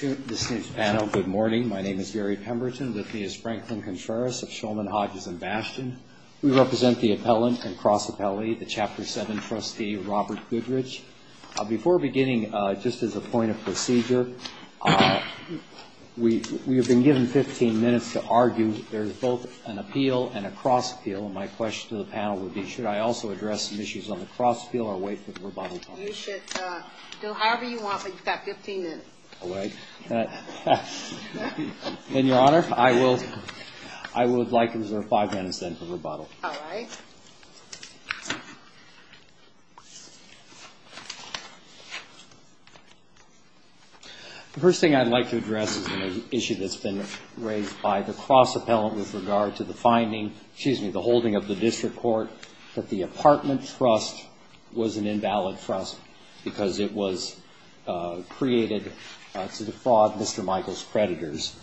Good morning. My name is Gary Pemberton. With me is Franklin Contreras of Shulman, Hodges and Bastion. We represent the appellant and cross appellee, the Chapter 7 trustee, Robert Goodrich. Before beginning, just as a point of procedure, we have been given 15 minutes to argue. There is both an appeal and a cross appeal. My question to the panel would be should I also address some issues on the cross appeal or wait for the rebuttal? You should do however you want, but you've got 15 minutes. In your honor, I would like to reserve five minutes then for rebuttal. Alright. The first thing I'd like to address is an issue that's been raised by the cross appellant with regard to the finding, excuse me, the holding of the district court that the apartment trust was an invalid trust because it was created to defraud Mr. Michael's creditors.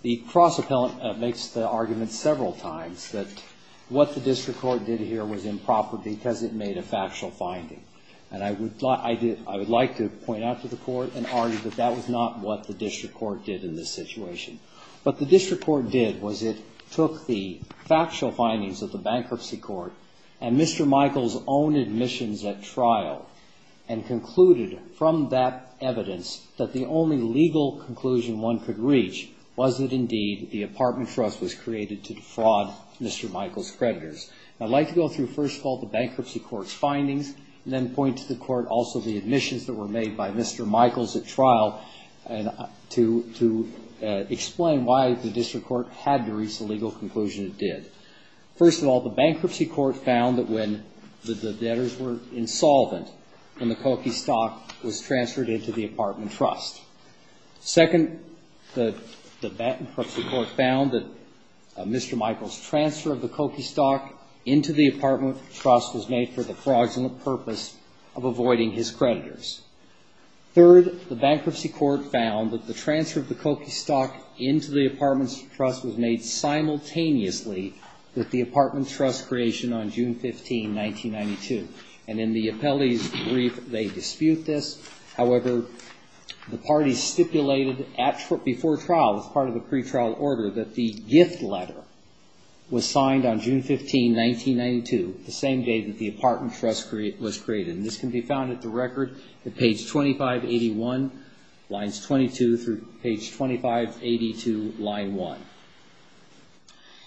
The cross appellant makes the argument several times that what the district court did here was improper because it made a factual finding. I would like to point out to the court and argue that that was not what the district court did in this situation. What the district court did was it took the factual findings of the bankruptcy court and Mr. Michael's own admissions at trial and concluded from that evidence that the only legal conclusion one could reach was that indeed the apartment trust was created to defraud Mr. Michael's creditors. I'd like to go through first of all the bankruptcy court's findings and then point to the court also the admissions that were made by Mr. Michael's at trial to explain why the district court had to reach the legal conclusion it did. First of all, the bankruptcy court found that when the debtors were insolvent when the Koki stock was transferred into the apartment trust. Second, the bankruptcy court found that Mr. Michael's transfer of the Koki stock into the apartment trust was made for the fraudulent purpose of avoiding his creditors. Third, the bankruptcy court found that the transfer of the Koki stock into the apartment trust was made simultaneously with the apartment trust creation on June 15, 1992. In the appellee's brief, they dispute this. However, the parties stipulated before trial as part of the pretrial order that the gift letter was signed on June 15, 1992, the same day that the apartment trust was created. This can be found at the record at page 2581, lines 22 through page 2582, line 1.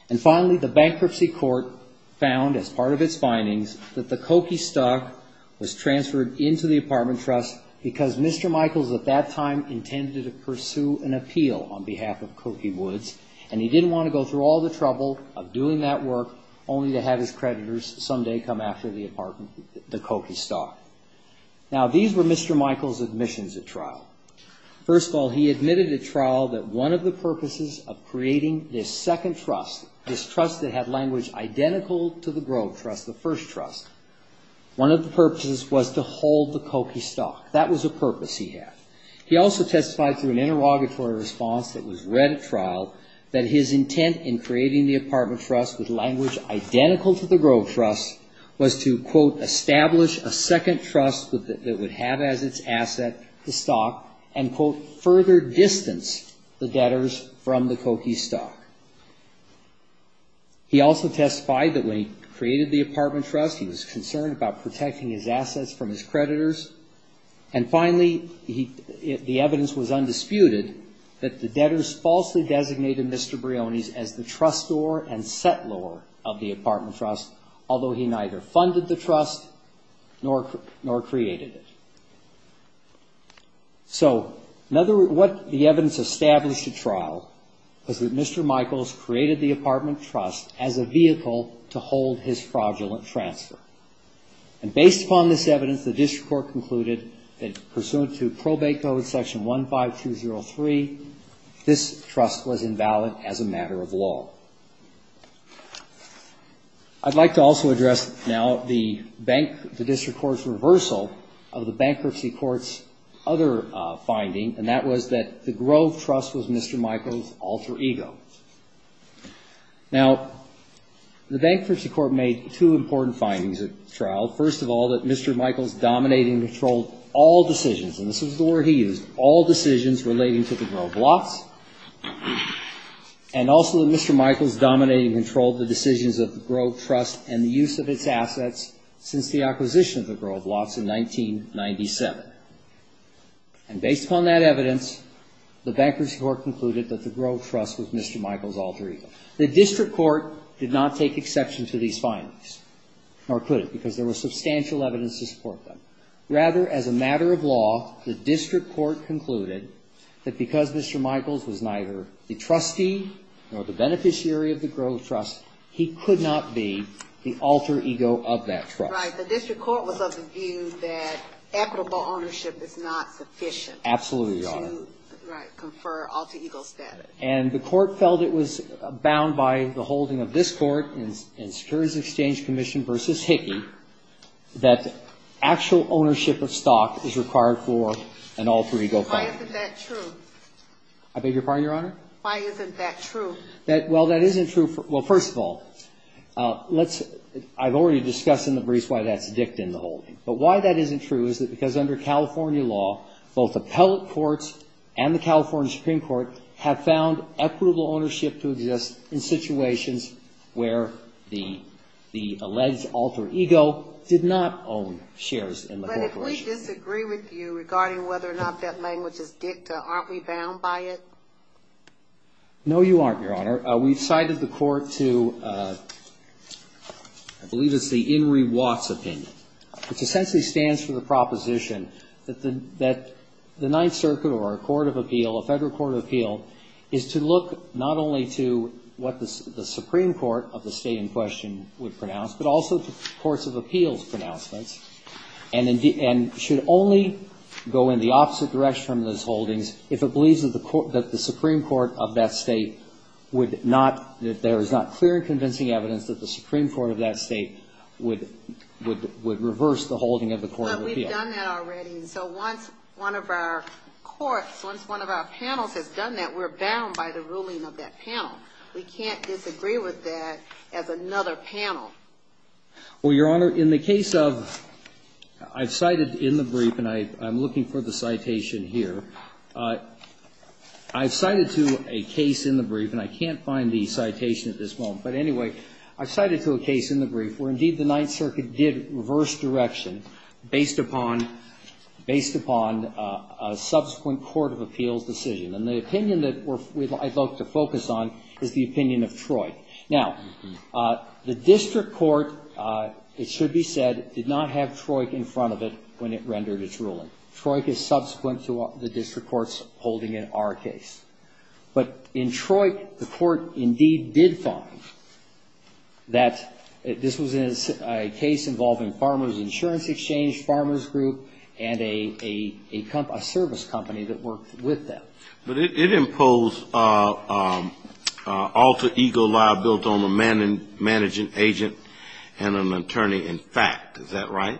And finally, the bankruptcy court found as part of its findings that the Koki stock was transferred into the apartment trust because Mr. Michael's at that time intended to pursue an appeal on behalf of Koki Woods and he didn't want to go through all the trouble of doing that work only to have his creditors someday come after the Koki stock. Now, these were Mr. Michael's admissions at trial. First of all, he admitted at trial that one of the purposes of creating this second trust, this trust that had language identical to the Grove Trust, the first trust, one of the purposes was to hold the Koki stock. That was a purpose he had. He also testified through an interrogatory response that was read at trial that his intent in creating the apartment trust with language identical to the Grove Trust was to, quote, establish a second trust that would have as its asset the stock and, quote, further distance the debtors from the Koki stock. He also testified that when he created the apartment trust, he was concerned about protecting his assets from his creditors. And finally, the evidence was undisputed that the debtors falsely designated Mr. Briones as the trustor and settlor of the apartment trust, although he neither funded the trust nor created it. So what the evidence established at trial was that Mr. Michaels created the apartment trust as a vehicle to hold his fraudulent transfer. And based upon this evidence, the district court concluded that, pursuant to Probate Code Section 15203, this trust was invalid as a matter of law. I'd like to also address now the district court's reversal of the bankruptcy court's other finding, and that was that the Grove Trust was Mr. Michaels' alter ego. Now, the bankruptcy court made two important findings at trial. First of all, that Mr. Michaels dominated and controlled all decisions, and this is the word he used, all decisions relating to the Grove Lots. And also that Mr. Michaels dominated and controlled the decisions of the Grove Trust and the use of its assets since the acquisition of the Grove Lots in 1997. And based upon that evidence, the bankruptcy court concluded that the Grove Trust was Mr. Michaels' alter ego. The district court did not take exception to these findings, nor could it, because there was substantial evidence to support them. Rather, as a matter of law, the district court concluded that because Mr. Michaels was neither the trustee nor the beneficiary of the Grove Trust, he could not be the alter ego of that trust. Right. The district court was of the view that equitable ownership is not sufficient to confer alter ego status. And the court felt it was bound by the holding of this court in Securities Exchange Commission v. Hickey that actual ownership of stock is required for an alter ego finding. Why isn't that true? I beg your pardon, Your Honor? Why isn't that true? Well, that isn't true for – well, first of all, let's – I've already discussed in the briefs why that's dict in the holding. But why that isn't true is that because under California law, both appellate courts and the California Supreme Court have found equitable ownership to exist in situations where the alleged alter ego did not own shares in the corporation. But if we disagree with you regarding whether or not that language is dicta, aren't we bound by it? No, you aren't, Your Honor. Your Honor, we've cited the court to – I believe it's the Enri Watts opinion, which essentially stands for the proposition that the Ninth Circuit or a court of appeal, a federal court of appeal, is to look not only to what the Supreme Court of the state in question would pronounce, but also the courts of appeals pronouncements, and should only go in the opposite direction from those holdings if it believes that the Supreme Court of that state would not – that there is not clear and convincing evidence that the Supreme Court of that state would reverse the holding of the court of appeal. But we've done that already. So once one of our courts, once one of our panels has done that, we're bound by the ruling of that panel. We can't disagree with that as another panel. Well, Your Honor, in the case of – I've cited in the brief, and I'm looking for the citation here. I've cited to a case in the brief, and I can't find the citation at this moment. But anyway, I've cited to a case in the brief where, indeed, the Ninth Circuit did reverse direction based upon – based upon a subsequent court of appeals decision. And the opinion that I'd like to focus on is the opinion of Troy. Now, the district court, it should be said, did not have Troy in front of it when it rendered its ruling. Troy is subsequent to the district courts holding in our case. But in Troy, the court, indeed, did find that this was a case involving Farmers Insurance Exchange, Farmers Group, and a service company that worked with them. But it imposed alter ego law built on the managing agent and an attorney in fact. Is that right?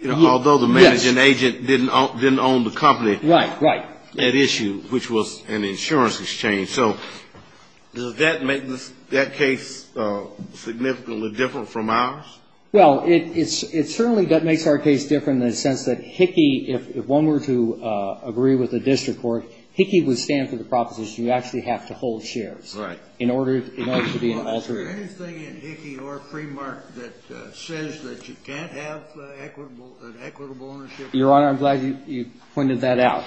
Yes. Although the managing agent didn't own the company. Right, right. At issue, which was an insurance exchange. So does that make that case significantly different from ours? Well, it certainly makes our case different in the sense that Hickey, if one were to agree with the district court, Hickey would stand for the proposition you actually have to hold shares. Right. In order to be an alter ego. Is there anything in Hickey or Fremark that says that you can't have an equitable ownership? Your Honor, I'm glad you pointed that out.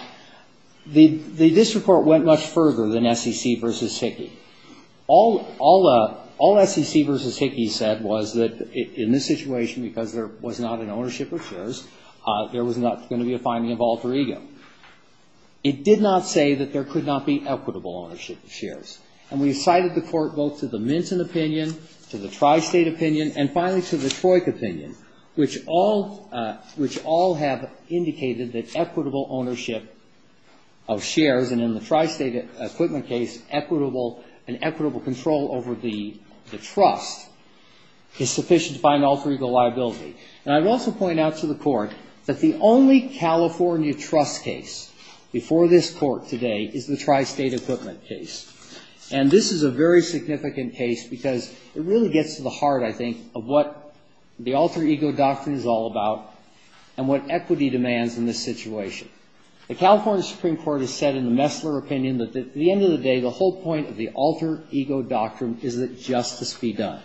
The district court went much further than SEC versus Hickey. All SEC versus Hickey said was that in this situation, because there was not an ownership of shares, there was not going to be a finding of alter ego. It did not say that there could not be equitable ownership of shares. And we cited the court both to the Minton opinion, to the Tri-State opinion, and finally to the Troik opinion. Which all have indicated that equitable ownership of shares, and in the Tri-State equipment case, an equitable control over the trust is sufficient to find alter ego liability. And I would also point out to the court that the only California trust case before this court today is the Tri-State equipment case. And this is a very significant case because it really gets to the heart, I think, of what the alter ego doctrine is all about and what equity demands in this situation. The California Supreme Court has said in the Messler opinion that at the end of the day, the whole point of the alter ego doctrine is that justice be done.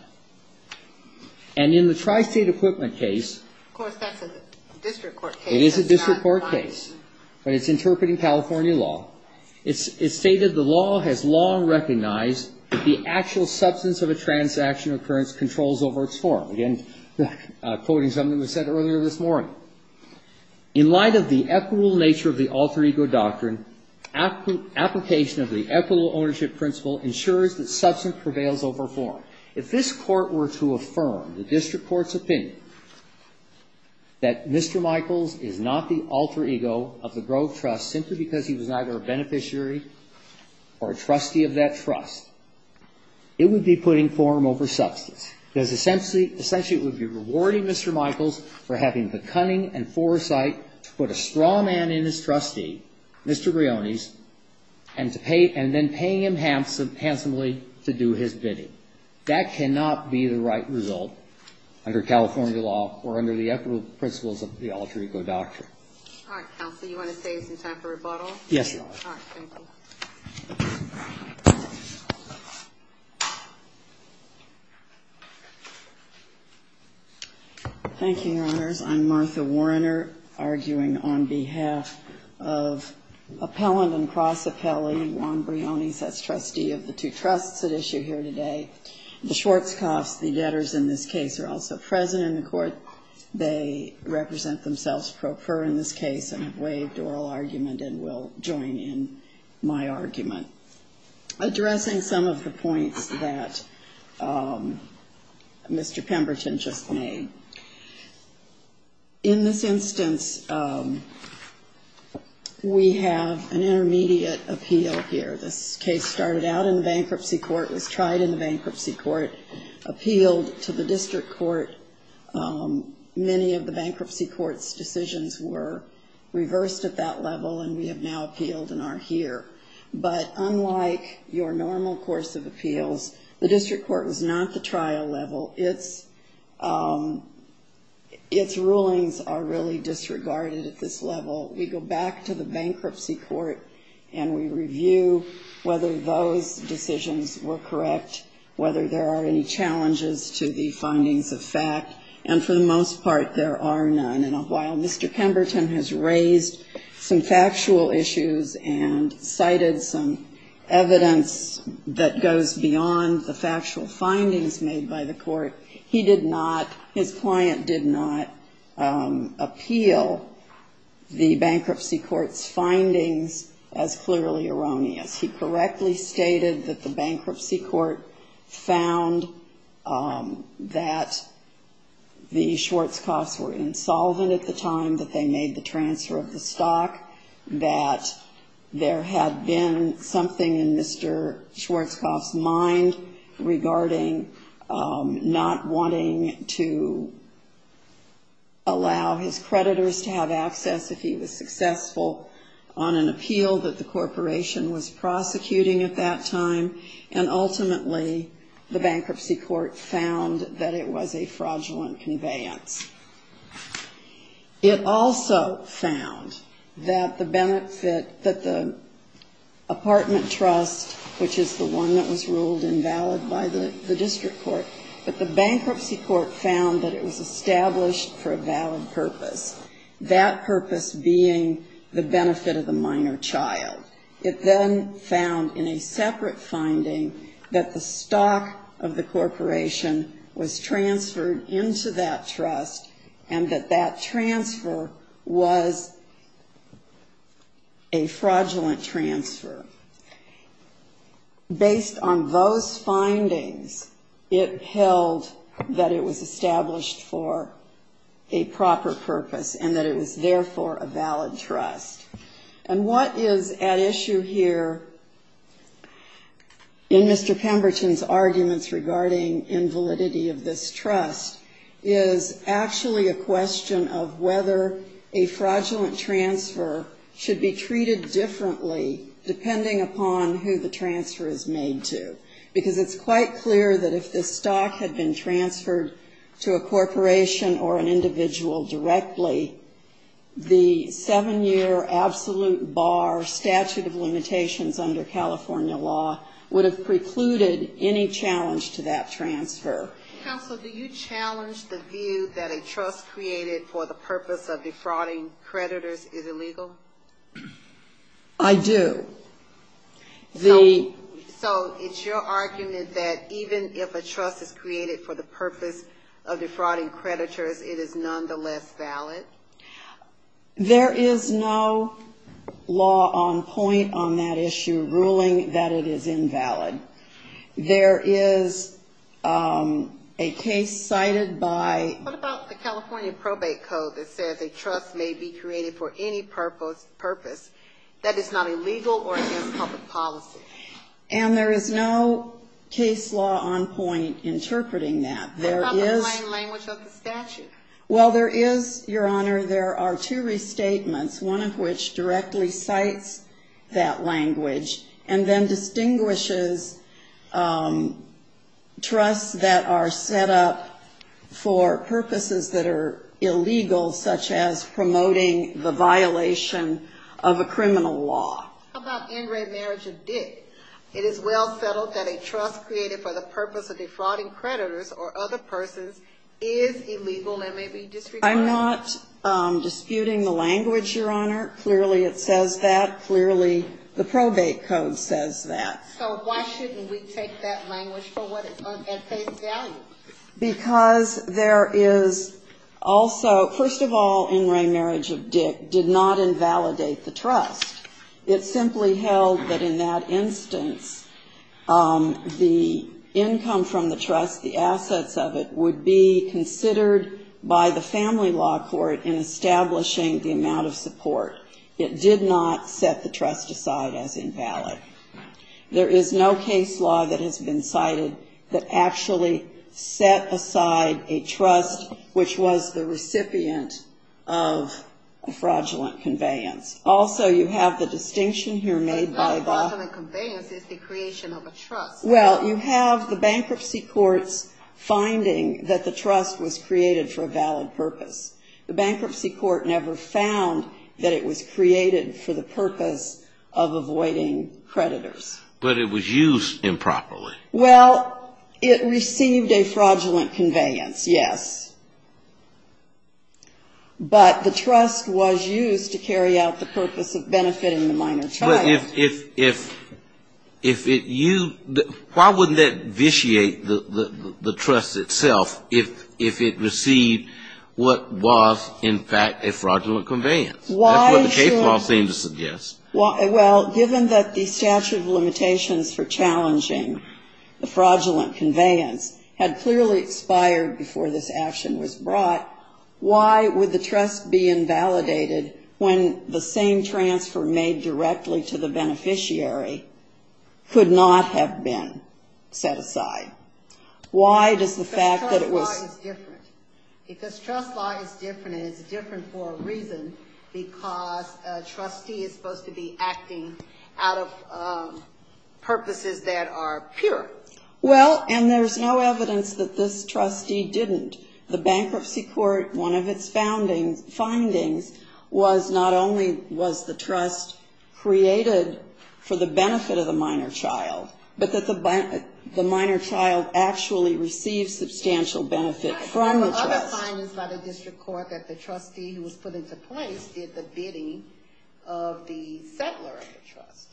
And in the Tri-State equipment case. Of course, that's a district court case. It is a district court case, but it's interpreting California law. It's stated the law has long recognized that the actual substance of a transaction occurrence controls over its form. Again, quoting something that was said earlier this morning. In light of the equitable nature of the alter ego doctrine, application of the equitable ownership principle ensures that substance prevails over form. If this Court were to affirm the district court's opinion that Mr. Michaels is not the alter ego of the Grove Trust simply because he was neither a beneficiary or a trustee of that trust, it would be putting form over substance. Because essentially, it would be rewarding Mr. Michaels for having the cunning and foresight to put a straw man in his trustee, Mr. Brioni's, and then paying him handsomely to do his bidding. That cannot be the right result under California law or under the equitable principles of the alter ego doctrine. All right, counsel. You want to say it's time for rebuttal? Yes, Your Honor. All right. Thank you. Thank you, Your Honors. I'm Martha Warriner, arguing on behalf of appellant and cross appellee, Juan Brioni, as trustee of the two trusts at issue here today. The Schwarzkopf's, the debtors in this case, are also present in the court. They represent themselves pro per in this case and have waived oral argument and will join in my argument. Addressing some of the points that Mr. Pemberton just made. In this instance, we have an intermediate appeal here. This case started out in the bankruptcy court, was tried in the bankruptcy court, appealed to the district court. Many of the bankruptcy court's decisions were reversed at that level, and we have now appealed and are here. But unlike your normal course of appeals, the district court was not the trial level. Its rulings are really disregarded at this level. We go back to the bankruptcy court and we review whether those decisions were correct, whether there are any challenges to the findings of fact, and for the most part, there are none. And while Mr. Pemberton has raised some factual issues and cited some evidence that goes beyond the factual findings made by the court, he did not, his client did not appeal the bankruptcy court's findings as clearly erroneous. He correctly stated that the bankruptcy court found that the Schwartzkopf's were insolvent at the time, that they made the transfer of the stock, that there had been something in Mr. Schwartzkopf's mind regarding not being able or not wanting to allow his creditors to have access if he was successful on an appeal that the corporation was prosecuting at that time. And ultimately, the bankruptcy court found that it was a fraudulent conveyance. It also found that the benefit, that the apartment trust, which is the one that was ruled invalid by the district court, the bankruptcy court found that it was established for a valid purpose, that purpose being the benefit of the minor child. It then found in a separate finding that the stock of the corporation was transferred into that trust, and that that transfer was a fraudulent transfer. Based on those findings, it held that it was established for a proper purpose, and that it was therefore a valid trust. And what is at issue here in Mr. Pemberton's arguments regarding invalidity of this trust is actually a question of whether a fraudulent transfer should be treated differently, depending upon who the transfer is made to. Because it's quite clear that if the stock had been transferred to a corporation or an individual directly, the seven-year absolute bar statute of limitations under California law would have precluded any challenge to that transfer. Counsel, do you challenge the view that a trust created for the purpose of defrauding creditors is illegal? I do. So it's your argument that even if a trust is created for the purpose of defrauding creditors, it is nonetheless valid? There is no law on point on that issue ruling that it is invalid. There is a case cited by... What about the California probate code that says a trust may be created for any purpose that is not illegal or against public policy? And there is no case law on point interpreting that. What about the plain language of the statute? Well, there is, Your Honor, there are two restatements, one of which directly cites that language, and then distinguishes trusts that are set up for purpose of defrauding creditors. There are purposes that are illegal, such as promoting the violation of a criminal law. How about in red marriage of Dick? It is well settled that a trust created for the purpose of defrauding creditors or other persons is illegal and may be disregarded. I'm not disputing the language, Your Honor. Clearly it says that. Clearly the probate code says that. So why shouldn't we take that language for what it says? Because there is also, first of all, in red marriage of Dick did not invalidate the trust. It simply held that in that instance the income from the trust, the assets of it, would be considered by the family law court in establishing the amount of support. It did not set the trust aside as invalid. There is no case law that has been cited that actually set aside a trust which was the recipient of a fraudulent conveyance. Also, you have the distinction here made by the... But not fraudulent conveyance, it's the creation of a trust. Well, you have the bankruptcy court's finding that the trust was created for a valid purpose. The bankruptcy court never found that it was created for the purpose of avoiding creditors. But it was used improperly. Well, it received a fraudulent conveyance, yes. But the trust was used to carry out the purpose of benefiting the minor child. But if it used... Why wouldn't that vitiate the trust itself if it received what was, in fact, a fraudulent conveyance? That's what the case law seems to suggest. Well, given that the statute of limitations for challenging the fraudulent conveyance had clearly expired before this action was brought, why would the trust be invalidated when the same transfer made directly to the beneficiary could not have been set aside? Why does the fact that it was... Because trust law is different, and it's different for a reason, because a trustee is supposed to be acting out of purposes that are pure. Well, and there's no evidence that this trustee didn't. The bankruptcy court, one of its findings, was not only was the trust created for the benefit of the minor child, but that the minor child actually received substantial benefit from the trust. Yes, there were other findings by the district court that the trustee who was put into place did the bidding of the settler of the trust.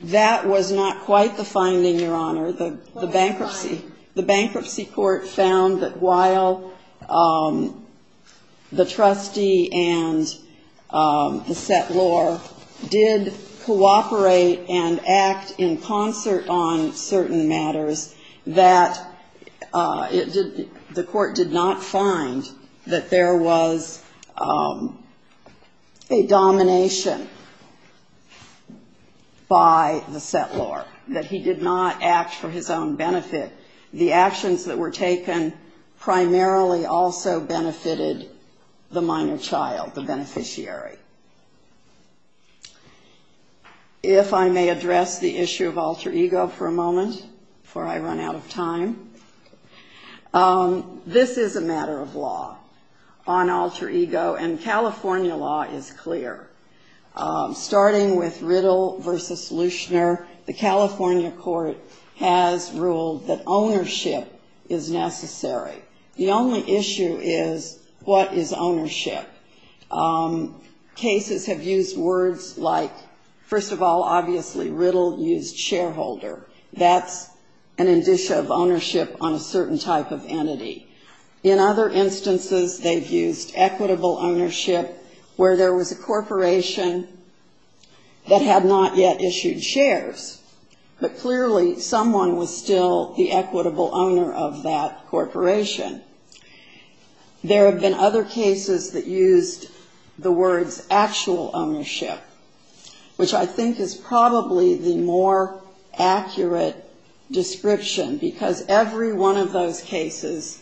That was not quite the finding, Your Honor. The bankruptcy court found that while the trustee and the settlor did cooperate and act in concert on certain matters, that the court did not find that there was a domination. By the settlor, that he did not act for his own benefit. The actions that were taken primarily also benefited the minor child, the beneficiary. If I may address the issue of alter ego for a moment, before I run out of time. This is a matter of law on alter ego, and California law is clear. Starting with Riddle v. Lushner, the California court has ruled that ownership is necessary. The only issue is what is ownership? Cases have used words like, first of all, obviously Riddle used shareholder. That's an indicia of ownership on a certain type of entity. In other instances, they've used equitable ownership where there was a corporation that had not yet issued shares. But clearly, someone was still the equitable owner of that corporation. There have been other cases that used the words actual ownership, which I think is probably the more accurate description. Because every one of those cases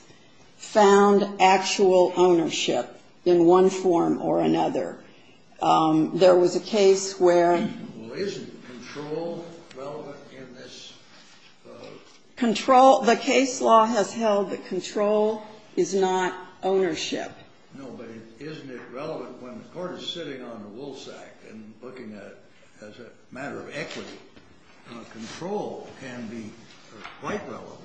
found actual ownership in one form or another. There was a case where. Control, the case law has held that control is not ownership. No, but isn't it relevant when the court is sitting on the Woolsack and looking at it as a matter of equity? Control can be quite relevant.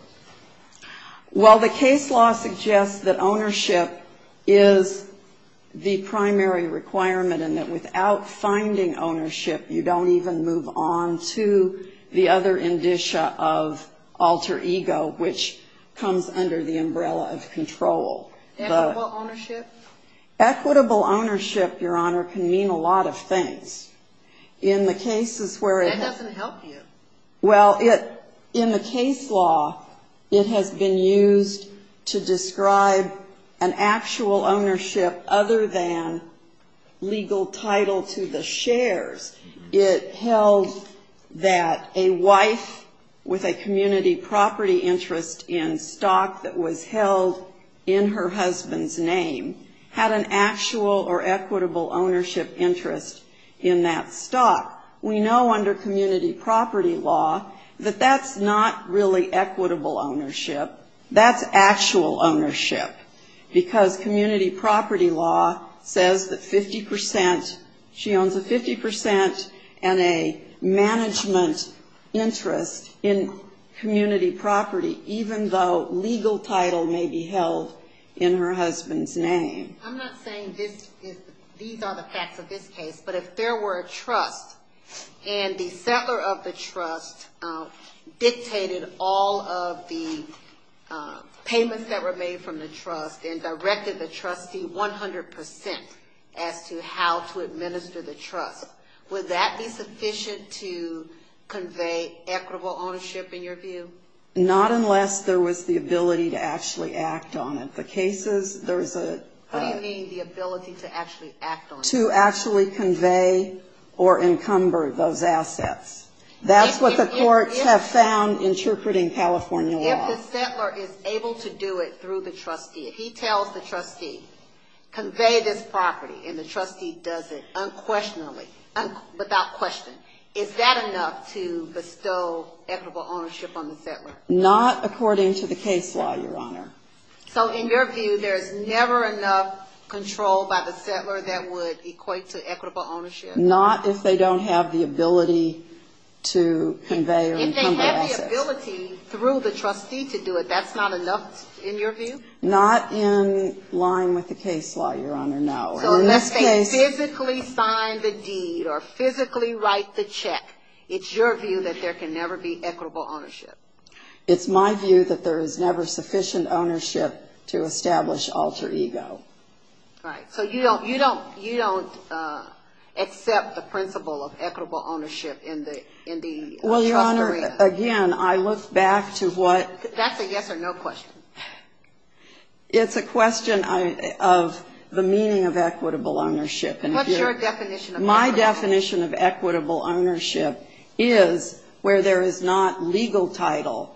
Well, the case law suggests that ownership is the primary requirement and that without finding ownership, you don't even move on to the other indicia of alter ego, which comes under the umbrella of control. Equitable ownership, Your Honor, can mean a lot of things. In the cases where it doesn't help you. Well, in the case law, it has been used to describe an actual ownership other than legal title to the shares. It held that a wife with a community property interest in stock that was held in her husband's name had an actual or equitable ownership interest in the shares. And in that stock, we know under community property law that that's not really equitable ownership. That's actual ownership, because community property law says that 50 percent, she owns a 50 percent and a management interest in community property, even though legal title may be held in her husband's name. I'm not saying these are the facts of this case, but if there were a trust and the settler of the trust dictated all of the payments that were made from the trust and directed the trustee 100 percent as to how to administer the trust, would that be sufficient to convey equitable ownership in your view? Not unless there was the ability to actually act on it. What do you mean the ability to actually act on it? To actually convey or encumber those assets. That's what the courts have found interpreting California law. If the settler is able to do it through the trustee, if he tells the trustee, convey this property, and the trustee does it unquestionably, without question, is that enough to bestow equitable ownership on the settler? Not according to the case law, Your Honor. Not if they don't have the ability to convey or encumber assets. If they have the ability through the trustee to do it, that's not enough in your view? Not in line with the case law, Your Honor, no. So unless they physically sign the deed or physically write the check, it's your view that there can never be equitable ownership? It's my view that there is never sufficient ownership to establish alter ego. Right. So you don't accept the principle of equitable ownership in the trust area? Well, Your Honor, again, I look back to what... That's a yes or no question. It's a question of the meaning of equitable ownership. What's your definition of equitable ownership? My definition of equitable ownership is where there is not legal title,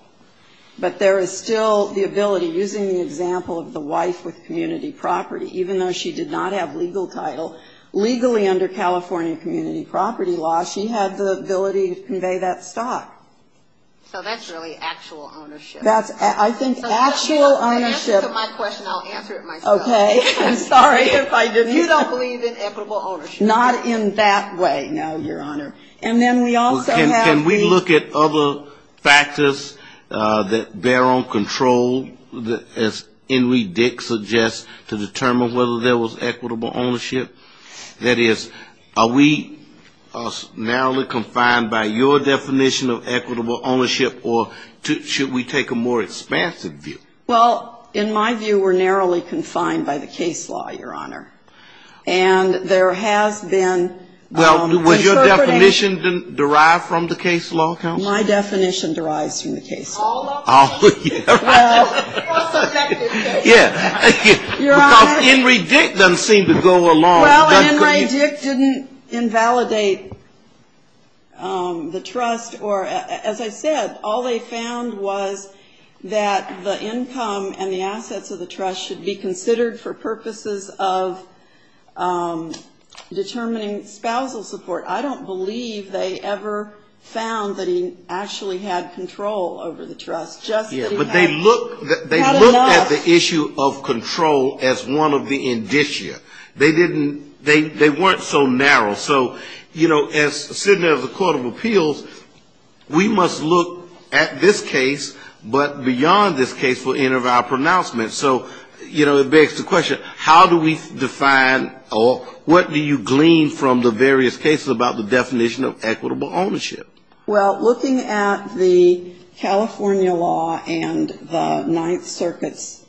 but there is still the ability, using the example of the wife with community property, even though she did not have legal title, legally under California community property law, she had the ability to convey that stock. So that's really actual ownership? That's, I think, actual ownership. If you don't believe in equitable ownership. Not in that way, no, Your Honor. And then we also have the... Can we look at other factors that bear on control, as Henry Dick suggests, to determine whether there was equitable ownership? That is, are we narrowly confined by your definition of equitable ownership, or should we take a more expansive view? Well, in my view, we're narrowly confined by the case law, Your Honor. And there has been... Well, was your definition derived from the case law, counsel? My definition derives from the case law. Henry Dick doesn't seem to go along. Well, Henry Dick didn't invalidate the trust, or as I said, all they found was that the income and the assets of the trust should be considered for purposes of determining spousal support. I don't believe they ever found that he actually had control over the trust. Just that he had enough... Yes, but they looked at the issue of control as one of the indicia. They didn't, they weren't so narrow. So, you know, as Senator of the Court of Appeals, we must look at this case, but beyond this case for any of our pronouncements. So, you know, it begs the question, how do we define, or what do you glean from the various cases about the definition of equitable ownership? Well, looking at the California law and the Ninth Circuit's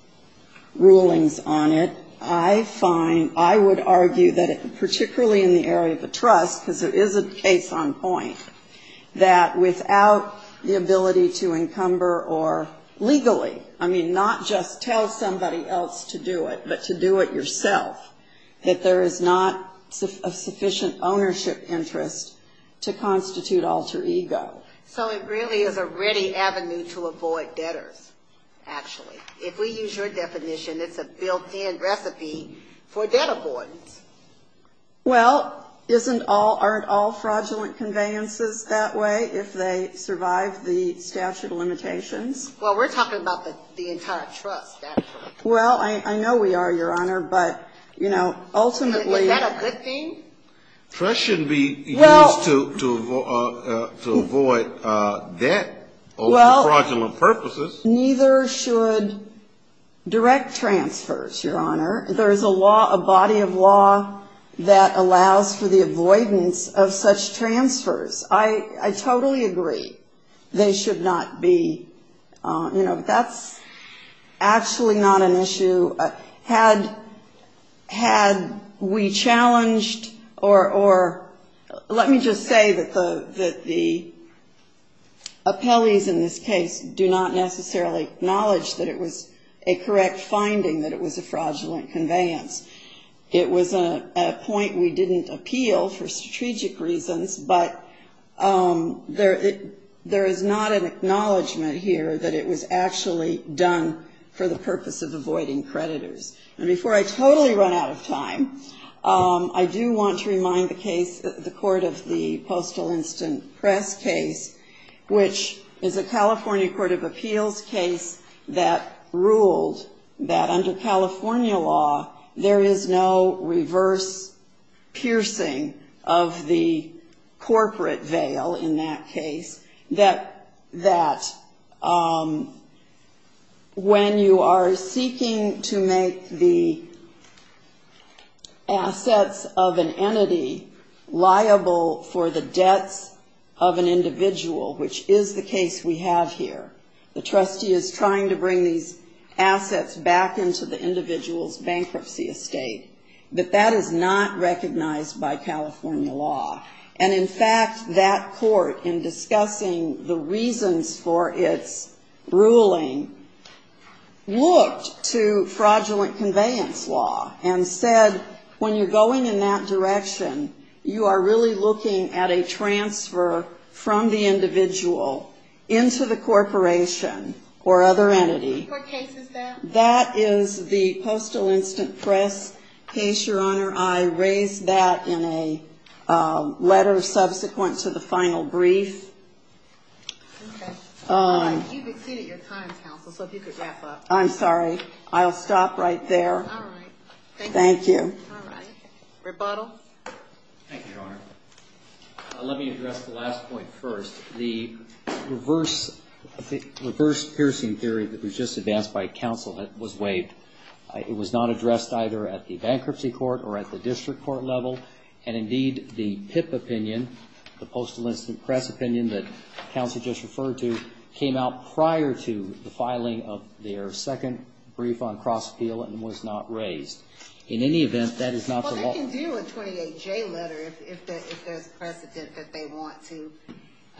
rulings on it, I find, I would argue that it, particularly in the area of the trust, because it is a case on point, that without the ability to encumber or legally, I mean, not just tell somebody that they're going to have a child, but tell somebody else to do it, but to do it yourself, that there is not a sufficient ownership interest to constitute alter ego. So it really is a ready avenue to avoid debtors, actually. If we use your definition, it's a built-in recipe for debt avoidance. Well, isn't all, aren't all fraudulent conveyances that way if they survive the statute of limitations? Well, we're talking about the entire trust, actually. Well, I know we are, Your Honor, but, you know, ultimately... Is that a good thing? Trust should be used to avoid debt over fraudulent purposes. Well, neither should direct transfers, Your Honor. There is a law, a body of law that allows for the avoidance of such transfers. I totally agree they should not be, you know, that's actually not an issue. Had we challenged or let me just say that the appellees in this case do not necessarily acknowledge that it was a correct finding that it was a fraudulent conveyance, it was a point we didn't appeal for strategic reasons, but there is not an acknowledgment here that it was actually done for the purpose of avoiding creditors. And before I totally run out of time, I do want to remind the case, the court of the Postal Instant Press case, which is a California court of appeals case that ruled that under California law, there is no reverse piercing of the corporate veil in that case, that when you are seeking to make the assets of an entity liable for the debts of an individual, which is the case we have here, the trustee is trying to bring these assets back into the individual's bankruptcy estate, that that is not recognized by California law. And in fact, that court, in discussing the reasons for its ruling, looked to fraudulent conveyance law and said, when you're going in that direction, you are really looking at a transfer from the individual into the corporation or other entity. That is the Postal Instant Press case, Your Honor. I raised that in a letter subsequent to the final brief. You've exceeded your time, counsel, so if you could wrap up. I'm sorry. I'll stop right there. Thank you. Rebuttal. Let me address the last point first. The reverse piercing theory that was just advanced by counsel was waived. It was not addressed either at the bankruptcy court or at the district court level. And indeed, the PIP opinion, the Postal Instant Press opinion that counsel just referred to, came out prior to the filing of their second brief on cross-appeal and was not raised. In any event, that is not the law. Well, they can do a 28J letter if there's precedent that they want to.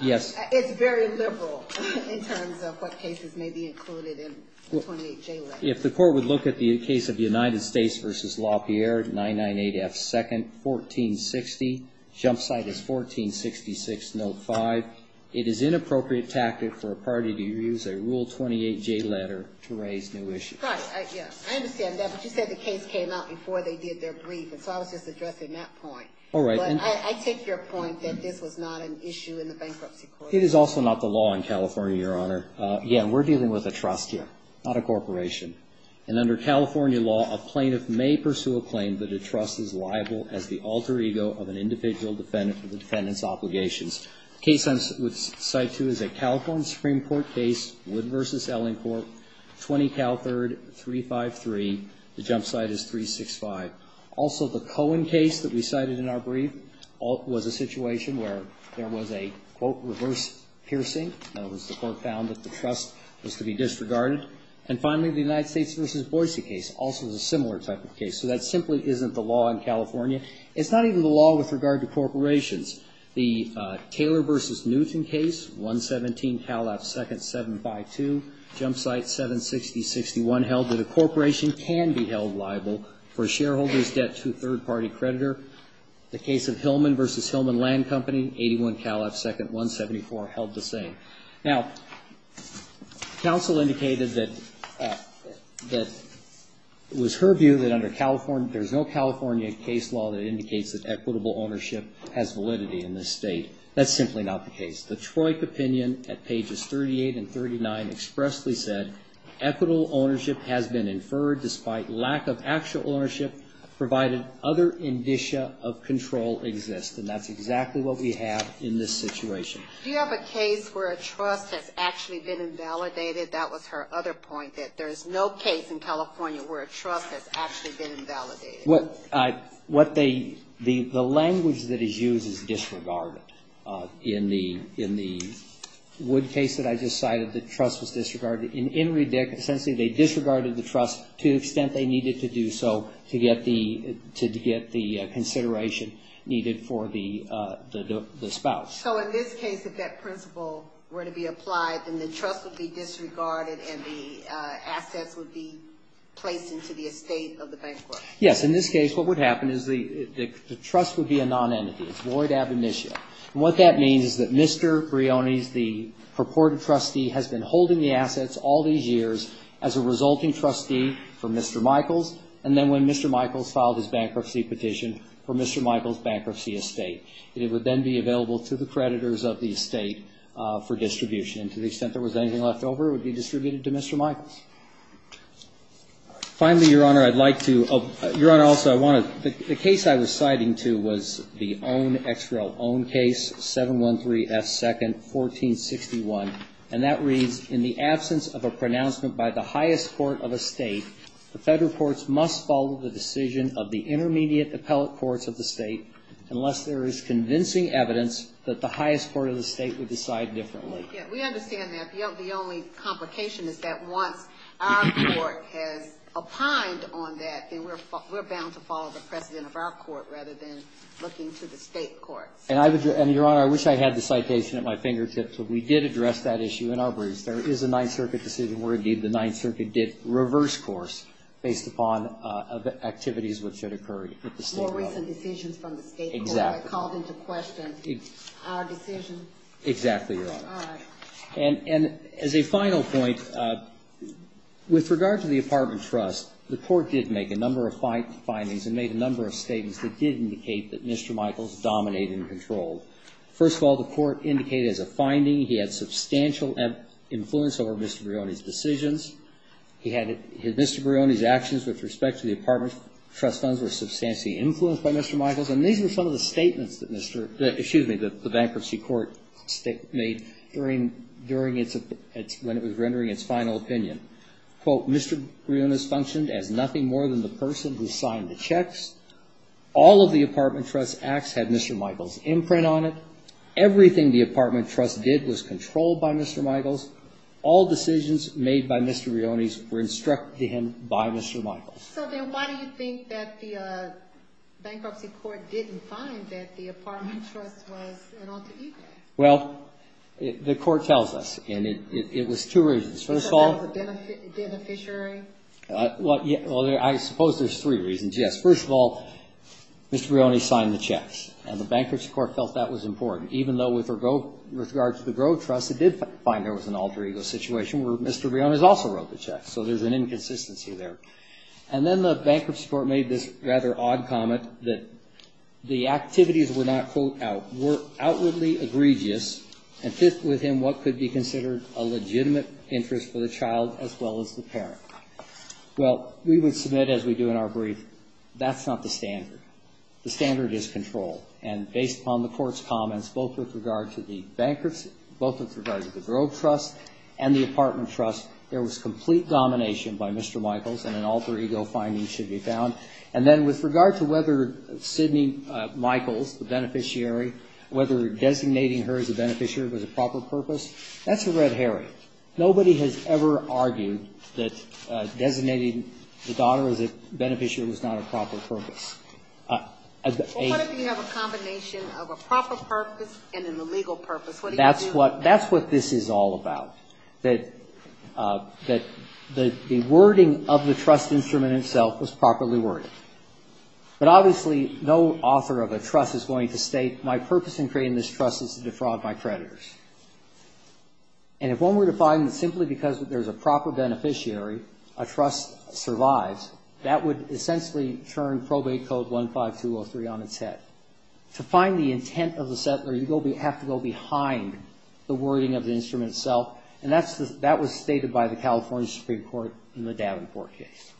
It's very liberal in terms of what cases may be included in the 28J letter. If the court would look at the case of United States v. LaPierre, 998 F. 2nd, 1460, jump site is 1466 Note 5. It is inappropriate tactic for a party to use a Rule 28J letter to raise new issues. Right. I understand that, but you said the case came out before they did their brief, and so I was just addressing that point. But I take your point that this was not an issue in the bankruptcy court. It is also not the law in California, Your Honor. Again, we're dealing with a trust here, not a corporation. And under California law, a plaintiff may pursue a claim that a trust is liable as the alter ego of an individual defendant for the defendant's obligations. Case I would cite to is a California Supreme Court case, Wood v. Ellingcourt, 20 Cal 3rd, 353. The jump site is 365. Also, the Cohen case that we cited in our brief was a situation where there was a, quote, reverse piercing. In other words, the court found that the trust was to be disregarded. And finally, the United States v. Boise case also is a similar type of case. So that simply isn't the law in California. It's not even the law with regard to corporations. The Taylor v. Newton case, 117 Cal F 2nd, 752. Jump site, 760, 61, held that a corporation can be held liable for a shareholder's debt to a third-party creditor. The case of Hillman v. Hillman Land Company, 81 Cal F 2nd, 174, held the same. Now, counsel indicated that it was her view that under California, there's no California case law that indicates that equitable ownership has validity in this state. That's simply not the case. The Troik opinion at pages 38 and 39 expressly said, equitable ownership has been inferred despite lack of actual ownership, provided other indicia of control exist. And that's exactly what we have in this situation. Do you have a case where a trust has actually been invalidated? That was her other point, that there's no case in California where a trust has actually been invalidated. What they, the language that is used is disregarded. In the Wood case that I just cited, the trust was disregarded. In Riddick, essentially, they disregarded the trust to the extent they needed to do so to get the consideration needed for the spouse. So in this case, if that principle were to be applied, then the trust would be disregarded and the assets would be placed into the estate of the bankrupt? Yes. In this case, what would happen is the trust would be a non-entity. It's void ab initio. And what that means is that Mr. Briones, the purported trustee, has been holding the assets all these years as a resulting trustee for Mr. Michaels, and then when Mr. Michaels filed his bankruptcy petition for Mr. Michaels' bankruptcy estate, it would then be available to the creditors of the estate for Your Honor, also, I want to, the case I was citing to was the own XRO own case, 713F 2nd, 1461. And that reads, in the absence of a pronouncement by the highest court of a state, the federal courts must follow the decision of the intermediate appellate courts of the state unless there is convincing evidence that the highest court of the state would decide differently. Yes, we understand that. The only complication is that once our court has opined on that, then we're bound to follow the precedent of our court rather than looking to the state courts. And Your Honor, I wish I had the citation at my fingertips, but we did address that issue in our briefs. There is a Ninth Circuit decision where, indeed, the Ninth Circuit decision is the one where Mr. Michaels was found guilty. And as a final point, with regard to the apartment trust, the court did make a number of findings and made a number of statements that did indicate that Mr. Michaels dominated and controlled. First of all, the court indicated as a finding he had substantial influence over Mr. Brioni's decisions. He had Mr. Brioni's actions with respect to the apartment trust funds were substantially influenced by Mr. Michaels. And these were some of the statements that Mr. — excuse me, that the bankruptcy court made during its — when it was rendering its final opinion. Quote, Mr. Brioni's functioned as nothing more than the person who signed the checks. All of the apartment trust acts had Mr. Michaels' imprint on it. Everything the apartment trust did was Well, why do you think that the bankruptcy court didn't find that the apartment trust was an alter ego? Well, the court tells us. And it was two reasons. First of all — So that was a beneficiary? Well, I suppose there's three reasons, yes. First of all, Mr. Brioni signed the checks. And the bankruptcy court felt that was important, even though with regard to the Grove Trust, it did find there was an alter ego situation where Mr. Brioni also wrote the bankruptcy court made this rather odd comment that the activities were not, quote, outwardly egregious and fit within what could be considered a legitimate interest for the child as well as the parent. Well, we would submit, as we do in our brief, that's not the standard. The standard is control. And based upon the court's comments, both with regard to the bankruptcy, both with regard to the Grove Trust and the apartment trust, there was complete domination by Mr. Michaels and an alter ego finding should be found. And then with regard to whether Sidney Michaels, the beneficiary, whether designating her as a beneficiary was a proper purpose, that's a red herring. Nobody has ever argued that designating the daughter as a beneficiary was not a proper purpose. Well, what if you have a combination of a proper purpose and an illegal purpose? That's what this is all about, that the wording of the trust instrument itself was properly worded. But obviously, no author of a trust is going to state my purpose in creating this trust is to defraud my creditors. And if one were to find that simply because there's a proper beneficiary, a trust survives, that would essentially turn probate code 15203 on its head. To find the intent of the settler, you have to go behind the wording of the instrument itself. And that was stated by the California Supreme Court in the Davenport case.